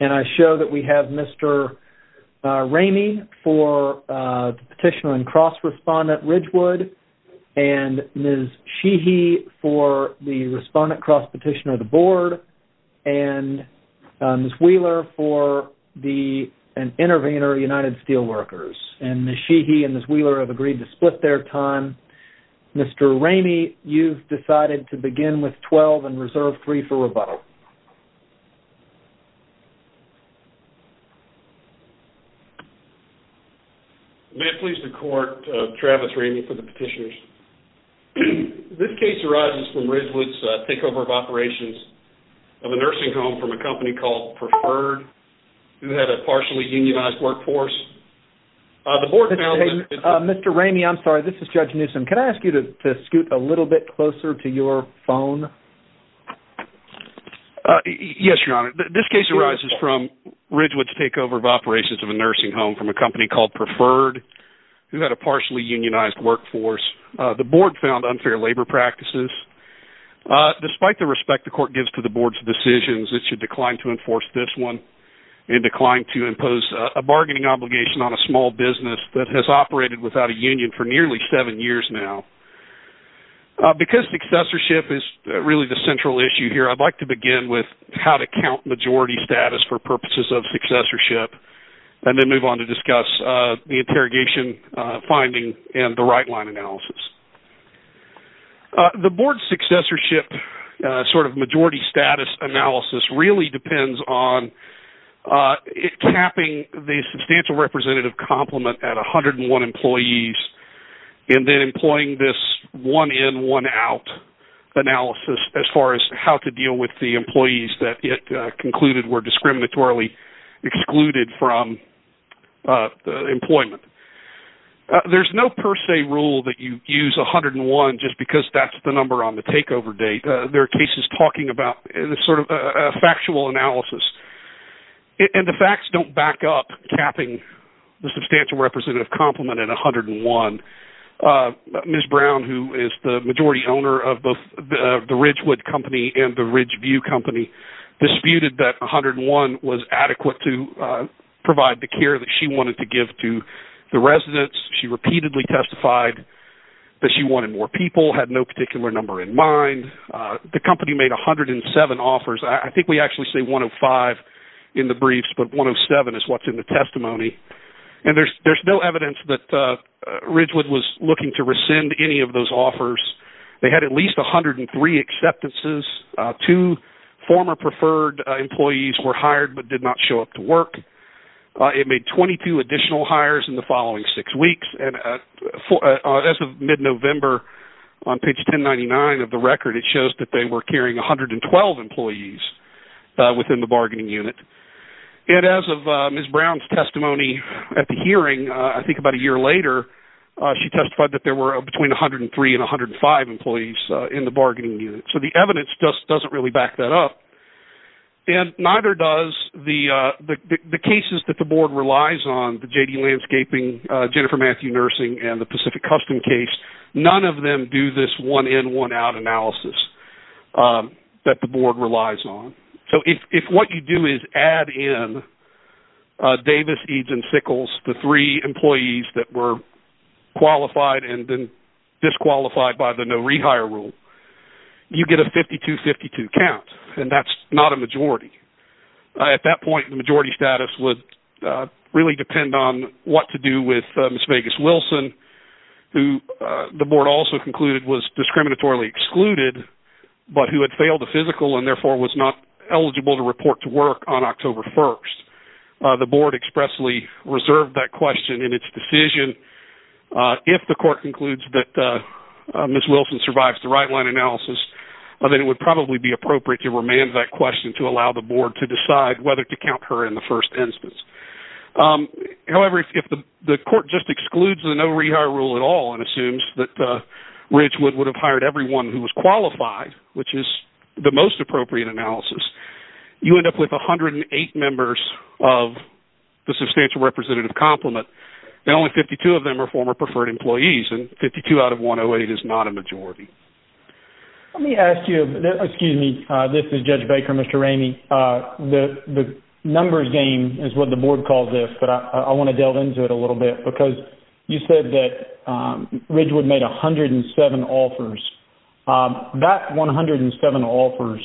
Petitioner of the Board, and Ms. Wheeler for the Intervenor, United Steel Workers. And I'm going to go ahead and move on to Case Number 2, which is 19-11615, Ridgewood Health Care Center v. National Labor Relations Board. And I show that we have Mr. Ramey for the Intervenor, United Steel Workers. And Ms. Sheehy and Ms. Wheeler have agreed to split their time. Mr. Ramey, you've decided to begin with 12 and reserve 3 for rebuttal. May it please the Court, Travis Ramey for the Petitioners. This case arises from Ridgewood's takeover of operations of a nursing home from a company called Preferred, who had a partially unionized workforce. The Board found that... Mr. Ramey, I'm sorry, this is Judge Newsom. Can I ask you to scoot a little bit closer to your phone? Yes, Your Honor. This case arises from Ridgewood's takeover of operations of a nursing home from a company called Preferred, who had a partially unionized workforce. The Board found unfair labor practices. Despite the respect the Court gives to the Board's decisions, it should decline to enforce this one and decline to impose a bargaining obligation on a small business that has operated without a union for nearly 7 years now. Because successorship is really the central issue here, I'd like to begin with how to count majority status for purposes of successorship, and then move on to discuss the interrogation finding and the right line analysis. The Board's successorship sort of majority status analysis really depends on tapping the substantial representative compliment at 101 employees and then employing this one in, one out analysis as far as how to deal with the employment. There's no per se rule that you use 101 just because that's the number on the takeover date. There are cases talking about sort of a factual analysis. And the facts don't back up tapping the substantial representative compliment at 101. Ms. Brown, who is the majority owner of both the Ridgewood company and the Ridgeview company, disputed that 101 was adequate to provide the care that she wanted to give to the residents. She repeatedly testified that she wanted more people, had no particular number in mind. The company made 107 offers. I think we actually say 105 in the briefs, but 107 is what's in the testimony. And there's no evidence that Ridgewood was looking to hire more employees. The former preferred employees were hired but did not show up to work. It made 22 additional hires in the following six weeks. And as of mid-November, on page 1099 of the record, it shows that they were carrying 112 employees within the bargaining unit. And as of Ms. Brown's testimony at the hearing, I think about a year later, she testified that there were between 103 and 105 employees in the bargaining unit. So the evidence just doesn't really back that up. And neither does the cases that the board relies on, the JD Landscaping, Jennifer Matthew Nursing, and the Pacific Custom case. None of them do this one-in, one-out analysis that the board relies on. So if what you do is add in Davis, Eads, and Sickles, the three employees that were qualified and then disqualified by the no rehire rule, you get a 52-52 count. And that's not a majority. At that point, the majority status would really depend on what to do with Ms. Vegas Wilson, who the board also concluded was discriminatorily excluded, but who had failed a physical and therefore was not eligible to report to work on October 1st. The board expressly reserved that question in its decision. If the court concludes that Ms. Wilson survives the right-line analysis, then it would probably be appropriate to remand that question to allow the board to decide whether to count her in the case. So if the board assumes that Ridgewood would have hired everyone who was qualified, which is the most appropriate analysis, you end up with 108 members of the substantial representative complement. And only 52 of them are former preferred employees, and 52 out of 108 is not a majority. Let me ask you, excuse me, this is Judge Baker, Mr. Ramey, the numbers game is what the board calls this, but I want to delve into it a little bit, because you said that Ridgewood made 107 offers. That 107 offers,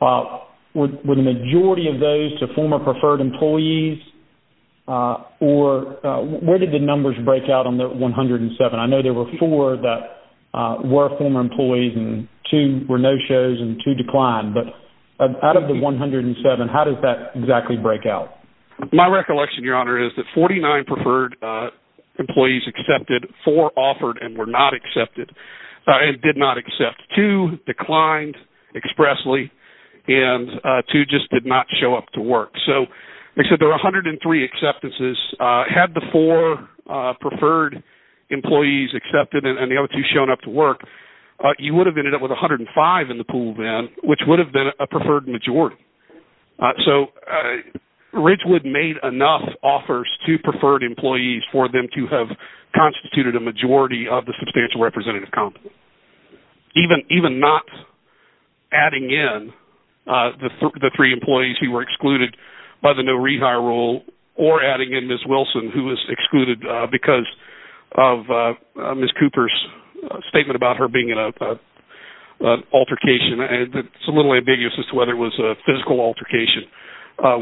were the majority of those to former preferred employees, or where did the numbers break out on the 107? I know there were four that were former employees and two were no-shows and two declined, but out of the 107, how does that exactly break out? My recollection, Your Honor, is that 49 preferred employees accepted, four offered and were not accepted, and did not accept. Two declined expressly, and two just did not show up to work. So there were 103 acceptances. Had the four preferred employees accepted and the other two shown up to work, you would have ended up with 105 in the pool then, which would have been a preferred majority. So Ridgewood made enough offers to preferred employees for them to have been the three employees who were excluded by the no-re-hire rule, or adding in Ms. Wilson, who was excluded because of Ms. Cooper's statement about her being in an altercation. It's a little ambiguous as to whether it was a physical altercation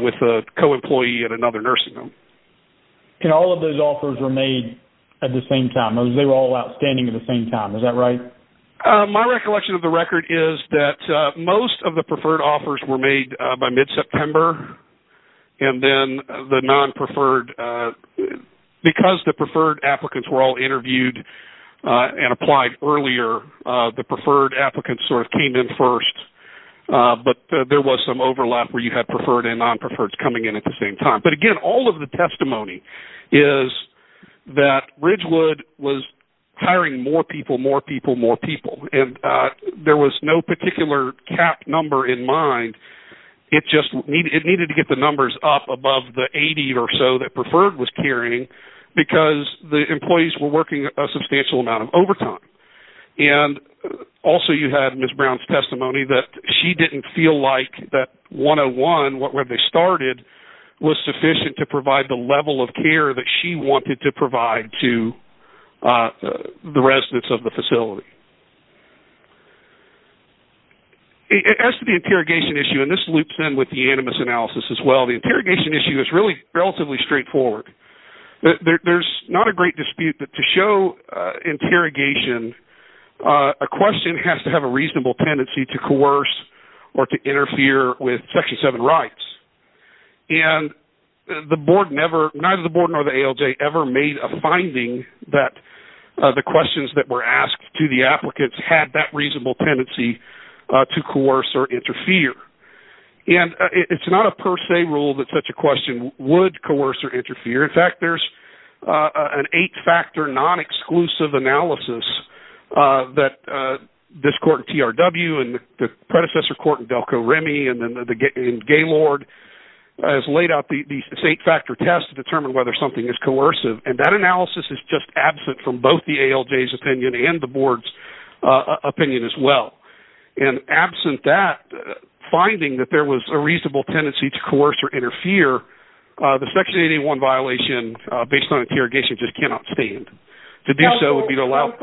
with a co-employee at another nursing home. And all of those offers were made at the same time? They were all outstanding at the same time, is that right? My recollection of the record is that most of the preferred offers were made by mid-September, and then the non-preferred, because the preferred applicants were all interviewed and applied earlier, the preferred applicants sort of came in first. But there was some overlap where you had preferred and non-preferred, and then there was hiring more people, more people, more people. And there was no particular cap number in mind. It just needed to get the numbers up above the 80 or so that preferred was carrying, because the employees were working a substantial amount of overtime. And also you had Ms. Brown's testimony that she didn't feel like that 101, where they started, was sufficient to provide the level of care that she wanted to provide to the residents of the facility. As to the interrogation issue, and this loops in with the animus analysis as well, the interrogation issue is really relatively straightforward. There's not a great dispute that to show interrogation, a question has to have a reasonable tendency to coerce or to interfere with Section 7 rights. And the board never, neither the board nor the ALJ, ever made a finding that the questions that were asked to the applicants had that reasonable tendency to coerce or interfere. And it's not a per se rule that such a question would coerce or interfere. In fact, there's an 8-factor non-exclusive analysis that this court in TRW and the predecessor court in Delco Remy and Gaylord has laid out these 8-factor tests to determine whether something is coercive. And that analysis is just absent from both the ALJ's opinion and the board's opinion as well. And absent that, finding that there was a reasonable tendency to coerce or interfere, the Section 881 violation based on interrogation just cannot stand. To do so would be to allow... As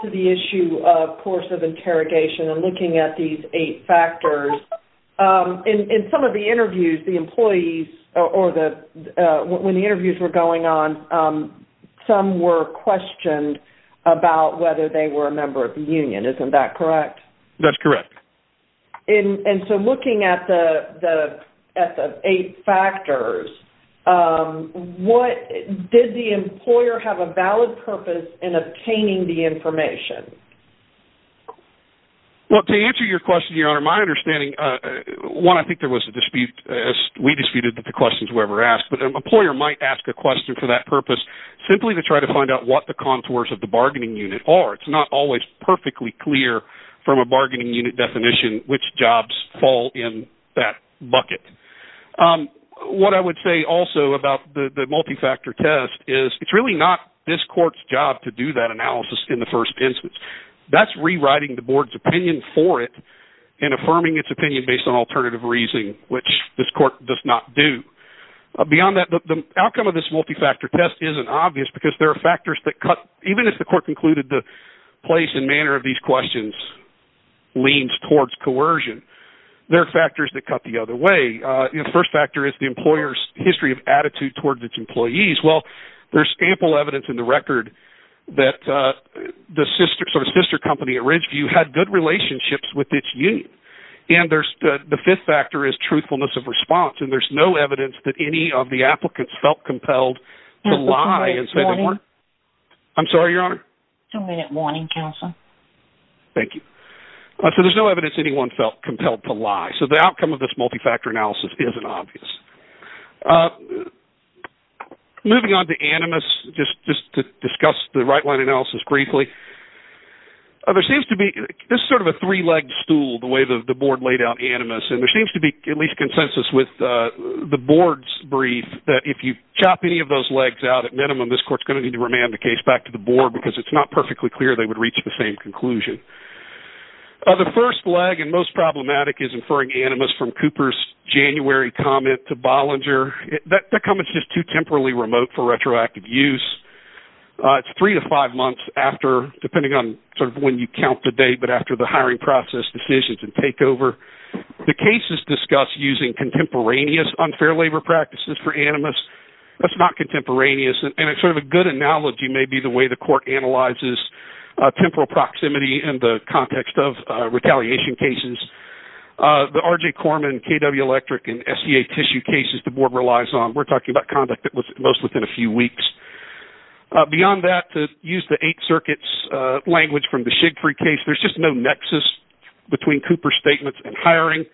to the issue of coercive interrogation and looking at these 8 factors, in some of the interviews, the employees or when the interviews were going on, some were questioned about whether they were a member of the union. Isn't that correct? That's correct. And so looking at the 8 factors, did the employer have a valid purpose in obtaining the information? Well, to answer your question, Your Honor, my understanding, one, I think there was a dispute, as we disputed that the questions were ever asked, but an employer might ask a question for that purpose simply to try to find out what the contours of the bargaining unit are. It's not always perfectly clear from a bargaining unit definition which jobs fall in that bucket. What I would say also about the multi-factor test is it's really not this court's job to do that analysis in the first instance. That's rewriting the board's opinion for it and affirming its opinion based on alternative reasoning, which this court does not do. Beyond that, the outcome of this multi-factor test isn't obvious because there are factors that cut, even if the court concluded the place and manner of these questions leans towards coercion. There are factors that cut the other way. The first factor is the employer's history of attitude towards its employees. Well, there's sample evidence in the record that the sister company at Ridgeview had good relationships with its union. And the fifth factor is truthfulness of response, and there's no evidence that any of the Thank you. So there's no evidence anyone felt compelled to lie. So the outcome of this multi-factor analysis isn't obvious. Moving on to animus, just to discuss the right-line analysis briefly. This is sort of a three-legged stool, the way the board laid out animus, and there seems to be at least consensus with the board's brief that if you refer to animus, you need to remand the case back to the board because it's not perfectly clear they would reach the same conclusion. The first leg and most problematic is inferring animus from Cooper's January comment to Bollinger. That comment's just too temporally remote for retroactive use. It's three to five months after, depending on sort of when you count the date, but after the hiring process decisions and takeover. The case is discussed using contemporaneous unfair labor practices for animus. That's not contemporaneous, and sort of a good analogy may be the way the court analyzes temporal proximity in the context of retaliation cases. The R.J. Korman, K.W. Electric, and S.E.A. Tissue cases the board relies on. We're talking about conduct that was most within a few weeks. Beyond that, to the extent that, at the time they were hiring,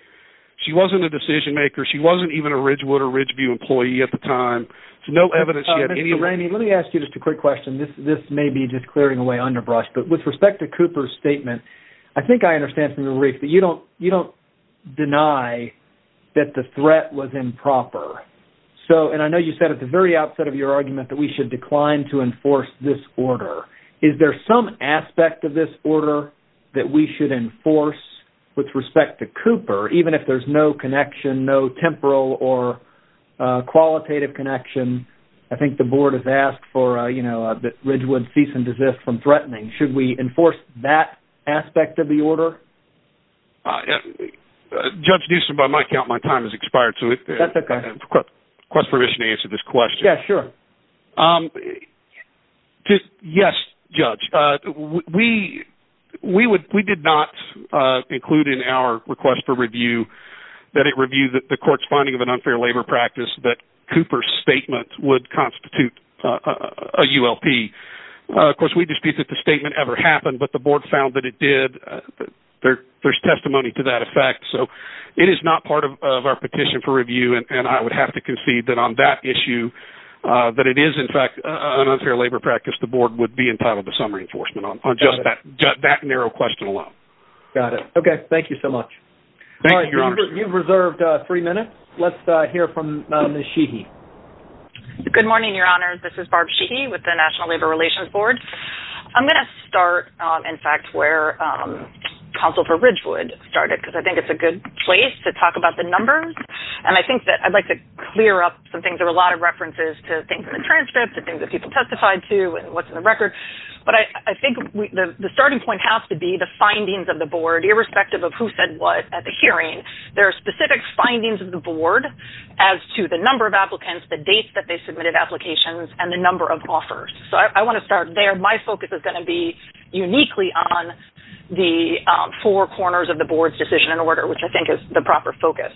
she wasn't a decision maker, she wasn't even a Ridgewater Ridgeview employee at the time. There's no evidence she had any... Mr. Ranney, let me ask you just a quick question. This may be just clearing away underbrush, but with respect to Cooper's statement, I think I understand from the brief that you don't deny that the threat was improper. I know you said at the very outset of your argument that we should decline to enforce this order. Is there some aspect of this order that we should enforce with respect to Cooper, even if there's no connection, no temporal or qualitative connection? I think the board has asked that Ridgewood cease and desist from threatening. Should we enforce that aspect of the order? Judge Newsom, by my count, my time has expired, so if I have permission to answer this question. Yes, Judge. We did not include in our request for review that it reviewed the court's finding of an unfair labor practice that Cooper's statement would constitute a ULP. Of course, we dispute that the statement ever happened, but the board found that it did. There's testimony to that effect, so it is not part of our petition for review, and I would have to concede that on that issue, that it is in fact an unfair labor practice the board would be entitled to some reinforcement on just that narrow question alone. Thank you so much. You've reserved three minutes. Let's hear from Ms. Sheehy. Good morning, Your Honors. This is Barb Sheehy with the National Labor Relations Board. I'm going to start in fact where counsel for Ridgewood started, because I think it's a good place to talk about the numbers, and I think that I'd like to clear up some things. There were a lot of references to things in the transcript, to things that people testified to, and what's in the record, but I think the starting point has to be the findings of the board, irrespective of who said what at the hearing. There are specific findings of the board as to the number of applicants, the dates that they submitted applications, and the number of offers. So I want to start there. My focus is going to be uniquely on the four corners of the board's decision and order, which I think is the proper focus.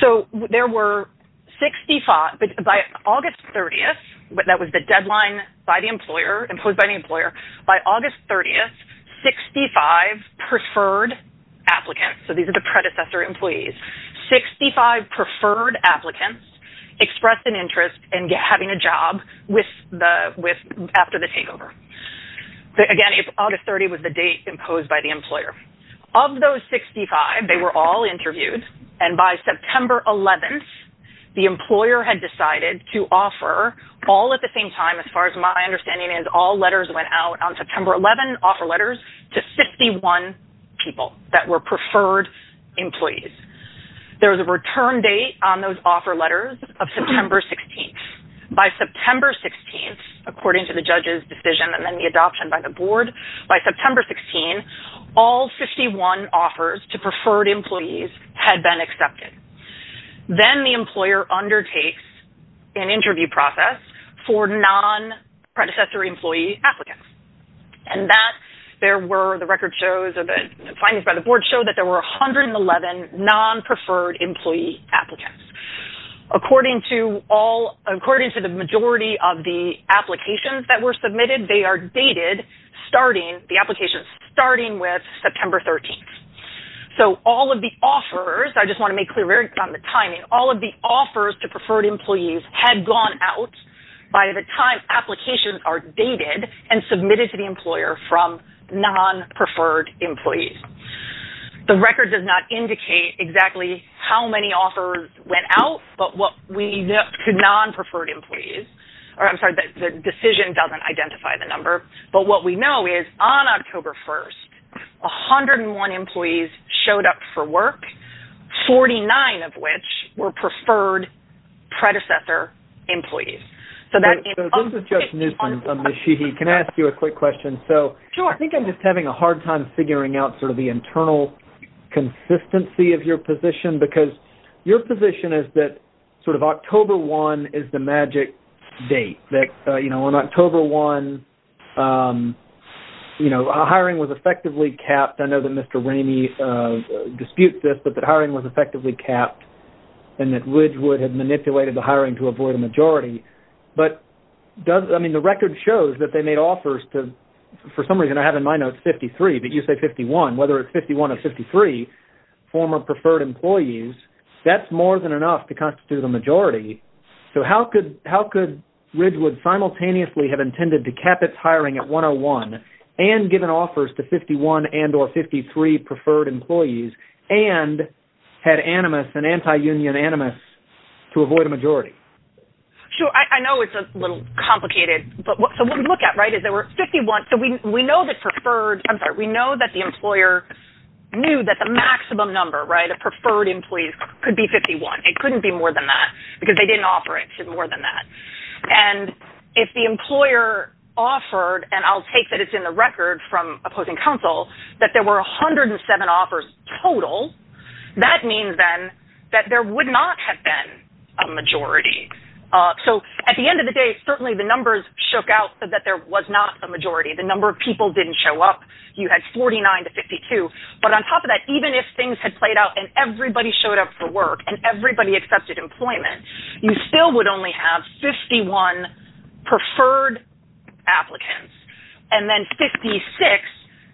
So there were 65, by August 30th, that was the deadline imposed by the employer. By August 30th, 65 preferred applicants. So these are the predecessor employees. 65 preferred applicants expressed an interest in having a job after the takeover. Again, August 30th was the date imposed by the employer. Of those 65, they were all interviewed, and by September 16th, all letters, my understanding is all letters went out on September 11th, offer letters to 51 people that were preferred employees. There was a return date on those offer letters of September 16th. By September 16th, according to the judge's decision and then the adoption by the board, by September 16th, all 51 offers to preferred employees had been accepted. Then the employer undertakes an interview process for non-predecessor employee applicants. The findings by the board showed that there were 111 non-preferred employee applicants. According to the majority of the applications that were submitted, they are dated starting with September 13th. All of the offers, I just want to make clear on the timing, all of the offers to preferred employees had gone out by the time applications are dated and submitted to the employer from non-preferred employees. The record does not indicate exactly how many offers went out to non-preferred employees. I'm sorry, the decision doesn't identify the number, but what we know is on October 1st, 101 employees showed up for work, 49 of which were preferred predecessor employees. This is just news from Ms. Sheehy. Can I ask you a quick question? Sure. I think I'm just having a hard time figuring out the internal consistency of your position because your position is that October 1 is the magic date. On October 1, hiring was effectively capped. I know that Mr. Ramey disputes this, but the hiring was effectively capped and that Widgewood had manipulated the hiring to avoid a majority. The record shows that they made offers to, for some reason I have in my notes, 53, but you say 51. Whether it's 51 or 53 former preferred employees, that's more than enough to constitute a majority. How could Widgewood simultaneously have intended to cap its hiring at 101 and given offers to 51 and or 53 preferred employees and had animus and anti-union animus to avoid a majority? Sure. I know it's a little complicated, but what we look at is there were 51. We know that the employer knew that the maximum number of preferred employees could be 51. It couldn't be more than that because they didn't offer it to more than that. If the employer offered, and I'll take that it's in the record from opposing counsel, that there were 107 offers total, that means then that there would not have been a majority. So at the end of the day, certainly the numbers shook out that there was not a majority. The number of people didn't show up. You had 49 to 52. But on top of that, even if things had played out and everybody showed up for work and everybody accepted employment, you still would only have 51 preferred applicants and then 56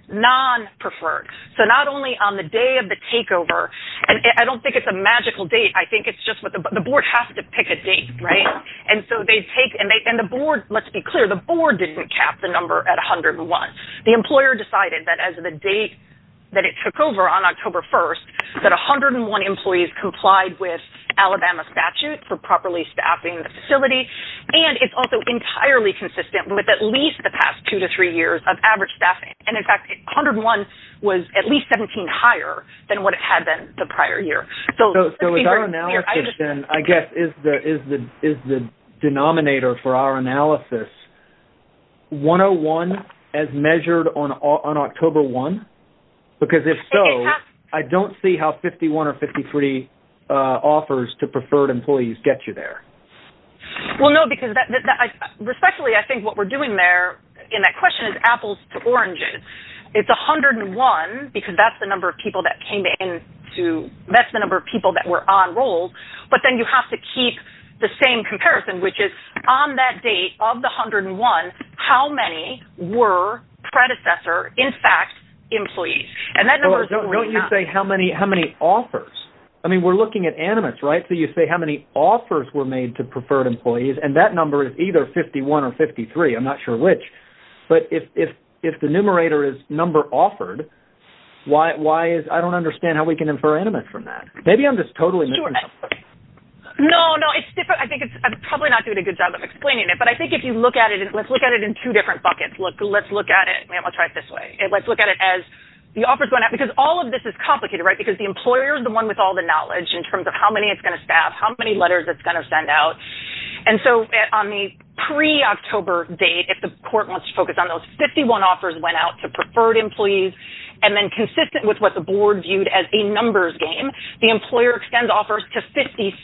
non-preferred. So not only on the day of the takeover, and I don't think it's a magical date, I think it's just the board has to pick a date, right? And so they take, and the board, let's be clear, the board didn't cap the number at 101. The employer decided that as the date that it took over on October 1st, that 101 employees complied with Alabama statute for properly staffing the facility. And it's also entirely consistent with at least the past two to three years of average staffing. And in fact, 101 was at least 17 higher than what it had been the prior year. So let's be clear. So with our analysis then, I guess, is the denominator for our analysis 101 as measured on October 1? Because if so, I don't see how 51 or 53 offers to preferred employees get you there. Well, no, because respectfully, I think what we're doing there in that question is apples to oranges. It's 101 because that's the number of people that came to the office, which is on that date of the 101, how many were predecessor, in fact, employees. And that number is... Don't you say how many offers? I mean, we're looking at animates, right? So you say how many offers were made to preferred employees, and that number is either 51 or 53. I'm not sure which. But if the numerator is number offered, why is... Maybe I'm just totally missing something. No, no. I think it's probably not doing a good job of explaining it. But I think if you look at it, let's look at it in two different buckets. Let's look at it. I'll try it this way. Let's look at it as the offers going out, because all of this is complicated, right? Because the employer is the one with all the knowledge in terms of how many it's going to staff, how many letters it's going to send out. And so on the pre-October date, if the court wants to focus on those, 51 offers went out to preferred employees. And then consistent with what the board viewed as a numbers game, the employer extends offers to 56.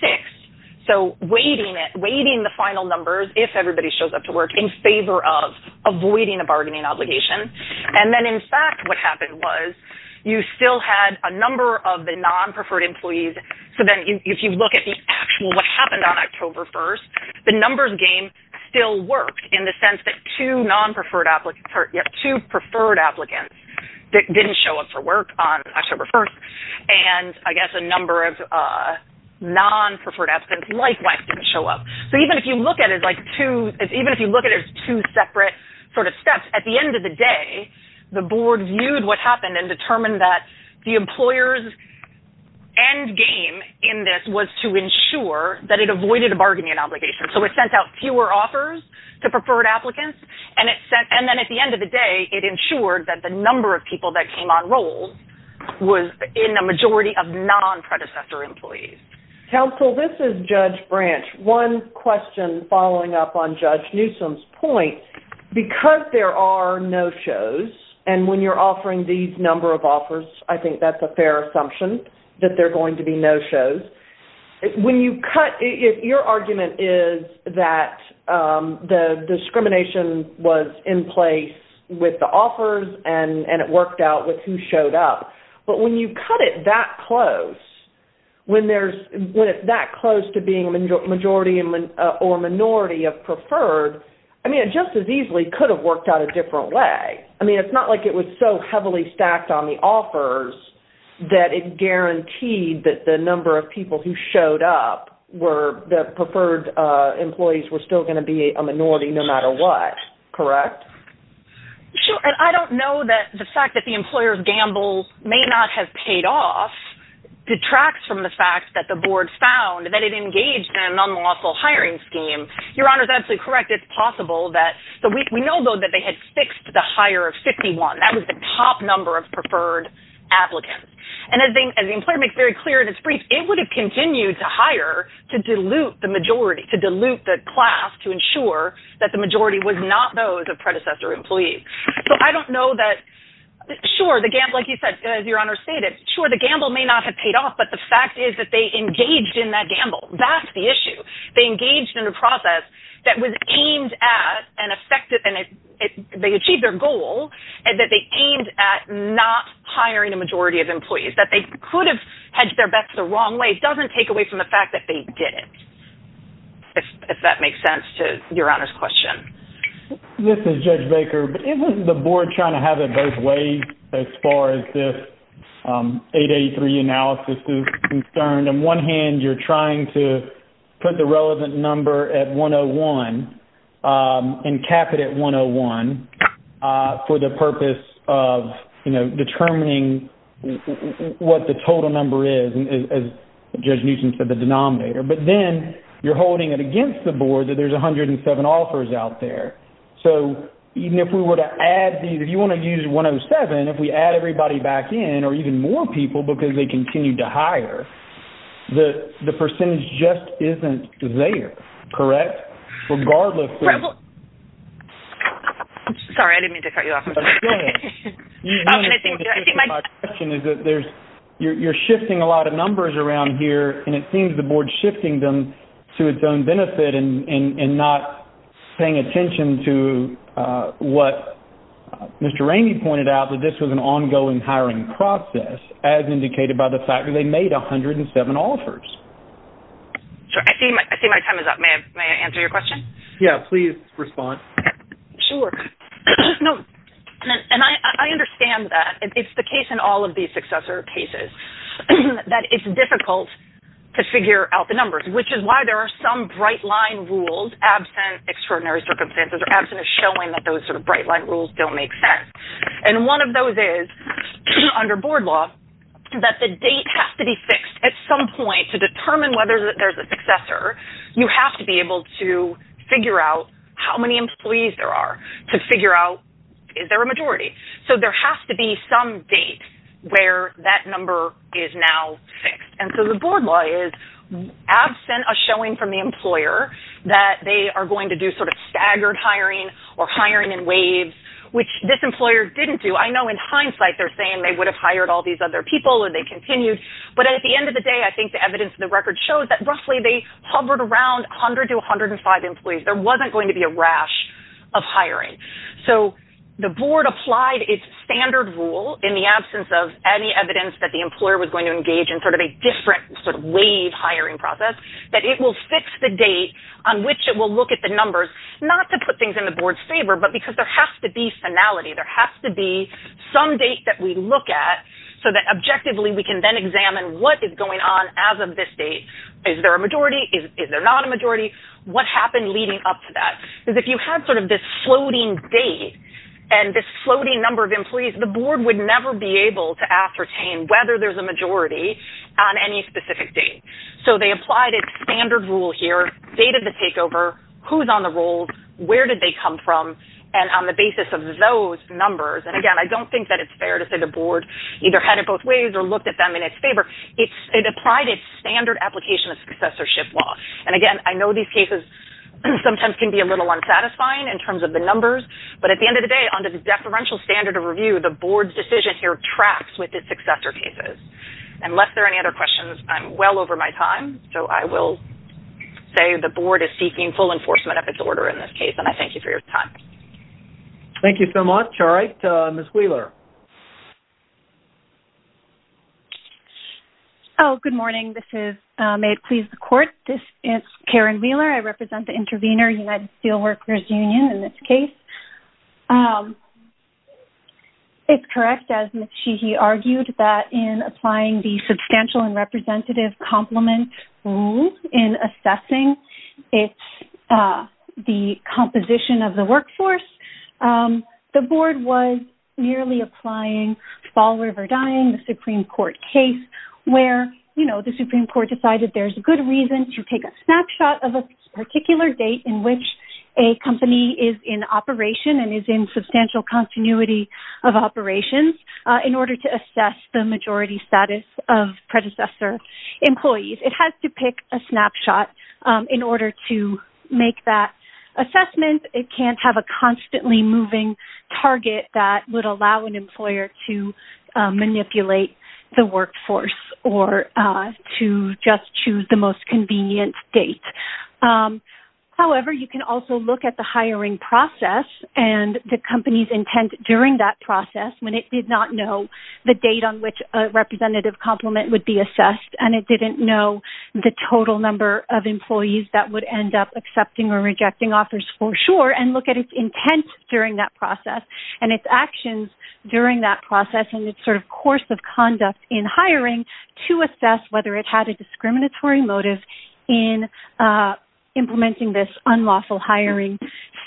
So weighting the final numbers, if everybody shows up to work, in favor of avoiding a bargaining obligation. And then in fact, what happened was you still had a number of the non-preferred employees. So then if you look at the actual... the numbers game still worked in the sense that two preferred applicants didn't show up for work on October 1st. And I guess a number of non-preferred applicants likewise didn't show up. So even if you look at it as two separate steps, at the end of the day, the board viewed what happened and determined that the employer's end game in this was to ensure that it avoided a bargaining obligation. So it sent out fewer offers to preferred applicants. And then at the end of the day, it ensured that the number of people that came on roll was in a majority of non-predecessor employees. Counsel, this is Judge Branch. One question following up on Judge Newsom's point, because there are no-shows, and when you're offering these number of offers, I think that's a fair assumption that there are going to be no-shows. When you cut... your argument is that the discrimination was in place with the offers and it worked out with who showed up. But when you cut it that close, when it's that close to being a majority or minority of preferred, I mean, it just as easily could have worked out a different way. I mean, it's not like it was so heavily stacked on the offers that it guaranteed that the number of people who showed up were the preferred employees were still going to be a minority no matter what. Correct? Sure. And I don't know that the fact that the employer's gamble may not have paid off detracts from the fact that the board found that it engaged in an unlawful hiring scheme. Your Honor is absolutely correct. It's possible that...we know, though, that they had fixed the hire of 51. That was the top number of preferred applicants. And as the employer makes very clear in its brief, it would have continued to hire to dilute the majority, to dilute the class, to ensure that the majority was not those of predecessor employees. So I don't know that...sure, the gamble, like you said, as Your Honor stated, sure, the gamble may not have paid off, but the fact is that they engaged in that gamble. That's the issue. They engaged in a process that was aimed at an effective...they achieved their goal and that they aimed at not hiring a majority of employees. That they could have hedged their bets the wrong way doesn't take away from the fact that they didn't, if that makes sense to Your Honor's question. This is Judge Baker. But isn't the board trying to have it both ways as far as this 883 analysis is concerned? On one hand, you're trying to put the relevant number at the top, determining what the total number is, as Judge Newsom said, the denominator. But then you're holding it against the board that there's 107 offers out there. So even if we were to add these...if you want to use 107, if we add everybody back in or even more people because they continued to hire, the percentage just isn't there, correct? Sorry, I didn't mean to cut you off. My question is that you're shifting a lot of numbers around here and it seems the board's shifting them to its own benefit and not paying attention to what Mr. Rainey pointed out, that this was an ongoing hiring process, as indicated by the fact that they made 107 offers. I see my time is up. May I answer your question? Yeah, please respond. Sure. And I understand that. It's the case in all of these successor cases that it's difficult to figure out the numbers, which is why there are some bright line rules absent extraordinary circumstances or absent of showing that those under board law, that the date has to be fixed at some point to determine whether there's a successor. You have to be able to figure out how many employees there are to figure out is there a majority? So there has to be some date where that number is now fixed. And so the board law is absent of showing from the employer that they are going to do sort of staggered hiring or hiring in waves, which this employer didn't do. I know in hindsight, they're saying they would have hired all these other people or they continued. But at the end of the day, I think the evidence in the record shows that roughly they hovered around 100 to 105 employees. There wasn't going to be a rash of hiring. So the board applied its standard rule in the absence of any evidence that the employer was going to engage in sort of a different sort of wave hiring process, that it will fix the date on which it will look at the numbers, not to put things in the board's favor, but because there has to be finality. There has to be some date that we look at so that objectively we can then examine what is going on as of this date. Is there a majority? Is there not a majority? What happened leading up to that? Because if you had sort of this floating date and this number, you would never be able to ascertain whether there's a majority on any specific date. So they applied its standard rule here, dated the takeover, who's on the rolls, where did they come from, and on the basis of those numbers. And again, I don't think that it's fair to say the board either had it both ways or looked at them in its favor. It applied its standard application of successorship law. And again, I know these cases sometimes can be a little unsatisfying in terms of the numbers, but at the end of the day, under the deferential standard of review, the board's decision here traps with the successor cases. Unless there are any other questions, I'm well over my time. So I will say the board is seeking full enforcement of its order in this case, and I thank you for your time. Thank you so much. All right, Ms. Wheeler. Oh, good morning. This is May it Please the Court. This is Karen Wheeler. I represent the intervener, United Steelworkers Union, in this case. It's correct, as Ms. Sheehy argued, that in applying the substantial and representative complement rule in assessing the composition of the workforce, the board was merely applying fall, live or dying, the Supreme Court case, where the Supreme Court decided there's a good reason to take a snapshot of a particular date in which a company is in operation and is in substantial continuity of operations in order to make that assessment. It can't have a constantly moving target that would allow an employer to manipulate the workforce or to just choose the most convenient date. However, you can also look at the hiring process and the company's intent during that process when it did not know the date on which a representative complement would be assessed, and it didn't know the total number of employees that would end up accepting or rejecting offers for sure, and look at its intent during that process and its actions during that process and its sort of course of conduct in hiring to assess whether it had a discriminatory motive in implementing this unlawful hiring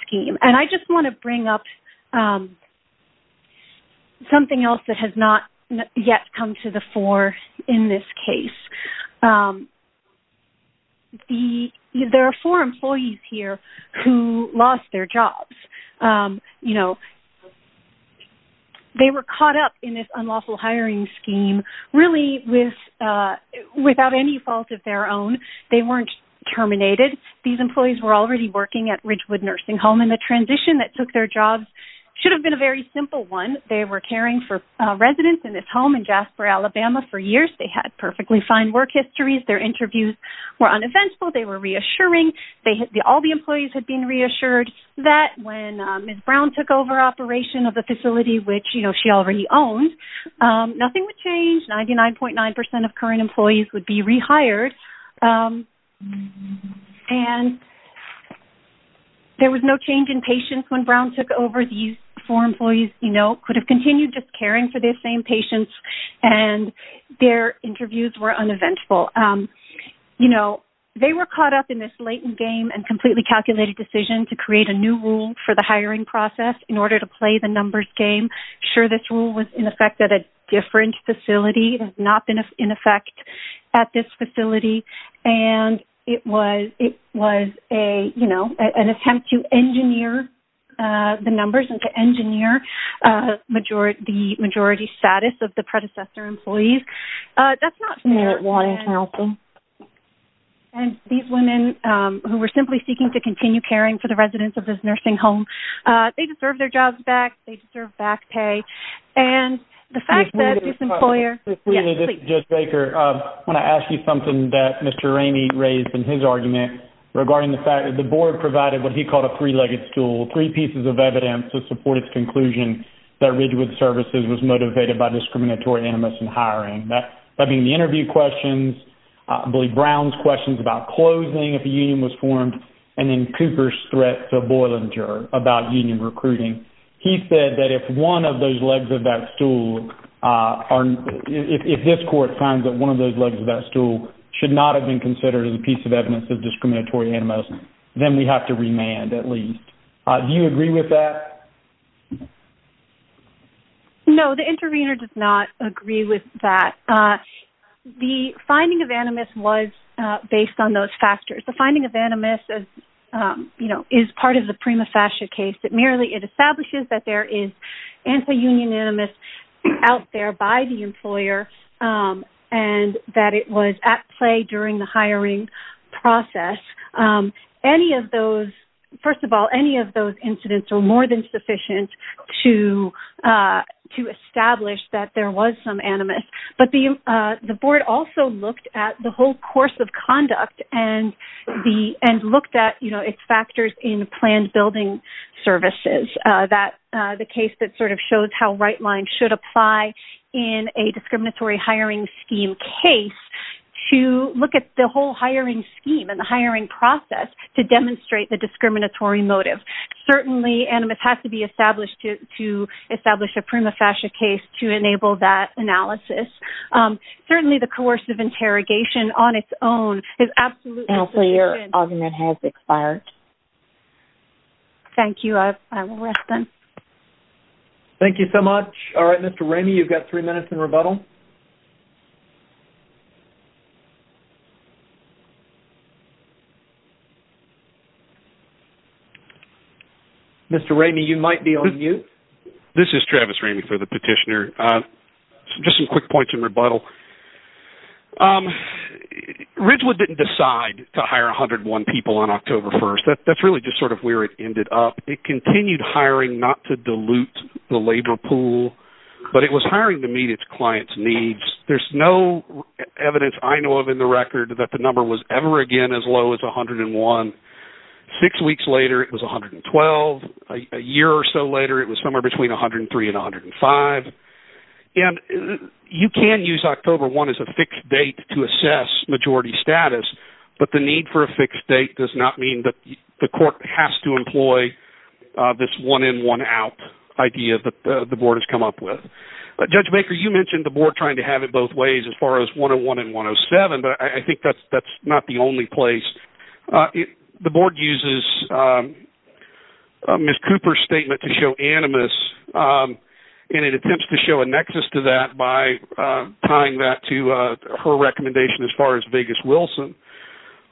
scheme. And I just want to bring up something else that has not yet come to the fore in this case. There are four employees here who lost their jobs. They were caught up in this unlawful hiring scheme really without any fault of their own. They weren't terminated. These employees were already working at Ridgewood Nursing Home, and the transition that took their jobs should have been a very simple one. They were caring for residents in this home in Jasper, Alabama for years. They had perfectly fine work histories. Their interviews were uneventful. They were reassuring. All the employees had been reassured that when Ms. Brown took over operation of the facility, which she already owned, nothing would change. 99.9% of current employees would be rehired. And there was no change in patience when Brown took over. These four employees could have continued just caring for their same patients, and their interviews were uneventful. They were caught up in this latent game and completely calculated decision to create a new rule for the hiring process in order to play the numbers game. Sure, this rule was in effect at a different facility. It has not been in effect at this facility. And it was an attempt to engineer the numbers and to engineer the majority status of the predecessor employees. And these women who were simply seeking to continue caring for the residents of this nursing home, they deserve their jobs back. They deserve back pay. I want to ask you something that Mr. Ramey raised in his argument regarding the fact that the board provided what he called a three-legged stool, three pieces of evidence to support its conclusion that Ridgewood Services was motivated by discriminatory animus in hiring. That being the interview questions, I believe Brown's questions about closing if a union was formed, and then Cooper's threat to Boilinger about union recruiting. He said that if one of those legs of that stool or if this court finds that one of those legs of that stool should not have been considered as a piece of evidence of discriminatory animus, then we have to remand at least. Do you agree with that? No, the intervener does not agree with that. The finding of animus was based on those factors. The finding of animus is part of the prima facie case. It merely establishes that there is anti-union animus out there by the employer and that it was at play during the hiring process. Any of those, first of all, any of those incidents are more than sufficient to establish that there was some animus. But the board also looked at the whole course of conduct and looked at its factors in planned building services. The case that shows how right lines should apply in a discriminatory hiring scheme case to look at the whole hiring scheme and the hiring process to demonstrate the discriminatory motive. Certainly animus has to be established to establish a prima facie case to enable that analysis. Certainly the coercive interrogation on its own is absolutely sufficient. Your argument has expired. Thank you. I will rest then. Thank you so much. All right, Mr. Ramey, you've got three minutes in rebuttal. Mr. Ramey, you might be on mute. This is Travis Ramey for the petitioner. Just some quick points in rebuttal. Ridgewood didn't decide to hire 101 people on October 1st. That's really just sort of where it ended up. It continued hiring not to dilute the labor pool, but it was hiring to meet its clients' needs. There's no evidence I know of in the record that the number was ever again as low as 101. Six weeks later it was 112. A year or so later it was somewhere between 103 and 105. You can use October 1 as a fixed date to assess majority status, but the need for a fixed date does not mean that the court has to employ this one-in-one-out idea that the board has come up with. Judge Baker, you mentioned the board trying to have it both ways as far as 101 and 107, but I think that's not the only place. The board uses Ms. Cooper's statement to show animus, and it attempts to show a nexus to that by tying that to her recommendation as far as Vegas Wilson.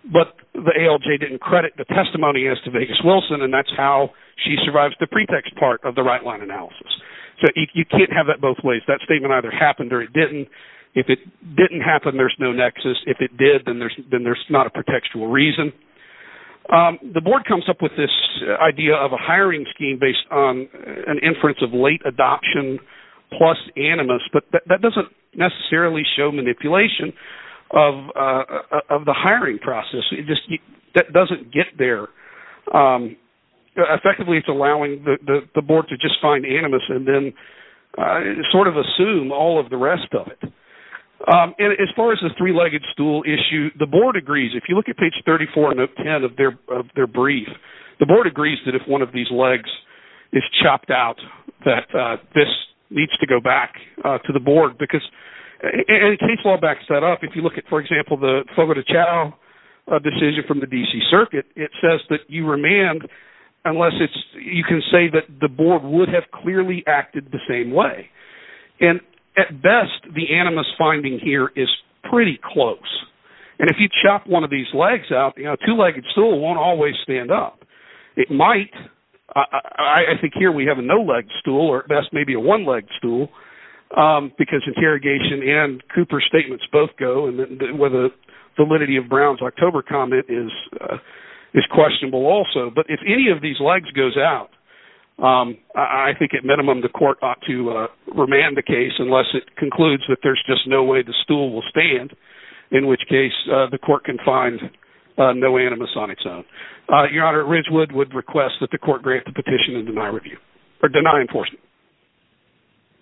But the ALJ didn't credit the testimony as to Vegas Wilson, and that's how she survives the pretext part of the right-line analysis. So you can't have that both ways. That statement either happened or it didn't. If it didn't happen, there's no nexus. If it did, then there's not a pretextual reason. The board comes up with this idea of a hiring scheme based on an inference of late adoption plus animus, but that doesn't necessarily show manipulation of the hiring process. That doesn't get there. Effectively, it's allowing the board to just find animus and then sort of assume all of the rest of it. As far as the three-legged stool issue, the board agrees. If you look at page 34, note 10 of their brief, the board agrees that if one of these legs is chopped out, that this needs to go back to the board. Case law backs that up. If you look at, for example, the Fogo de Chao decision from the D.C. Circuit, it says that you remand unless you can say that the board would have clearly acted the same way. At best, the three-legged stool won't always stand up. It might. I think here we have a no-legged stool or at best maybe a one-legged stool because interrogation and Cooper's statements both go. The validity of Brown's October comment is questionable also, but if any of these legs goes out, I think at minimum the court ought to remand the case unless it concludes that there's just no way the stool will stand, in which case the court can find no animus on its own. Your Honor, Ridgewood would request that the court grant the petition and deny enforcement.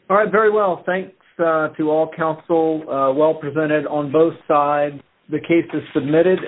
All right. Very well. Thanks to all counsel. Well presented on both sides. The case is submitted.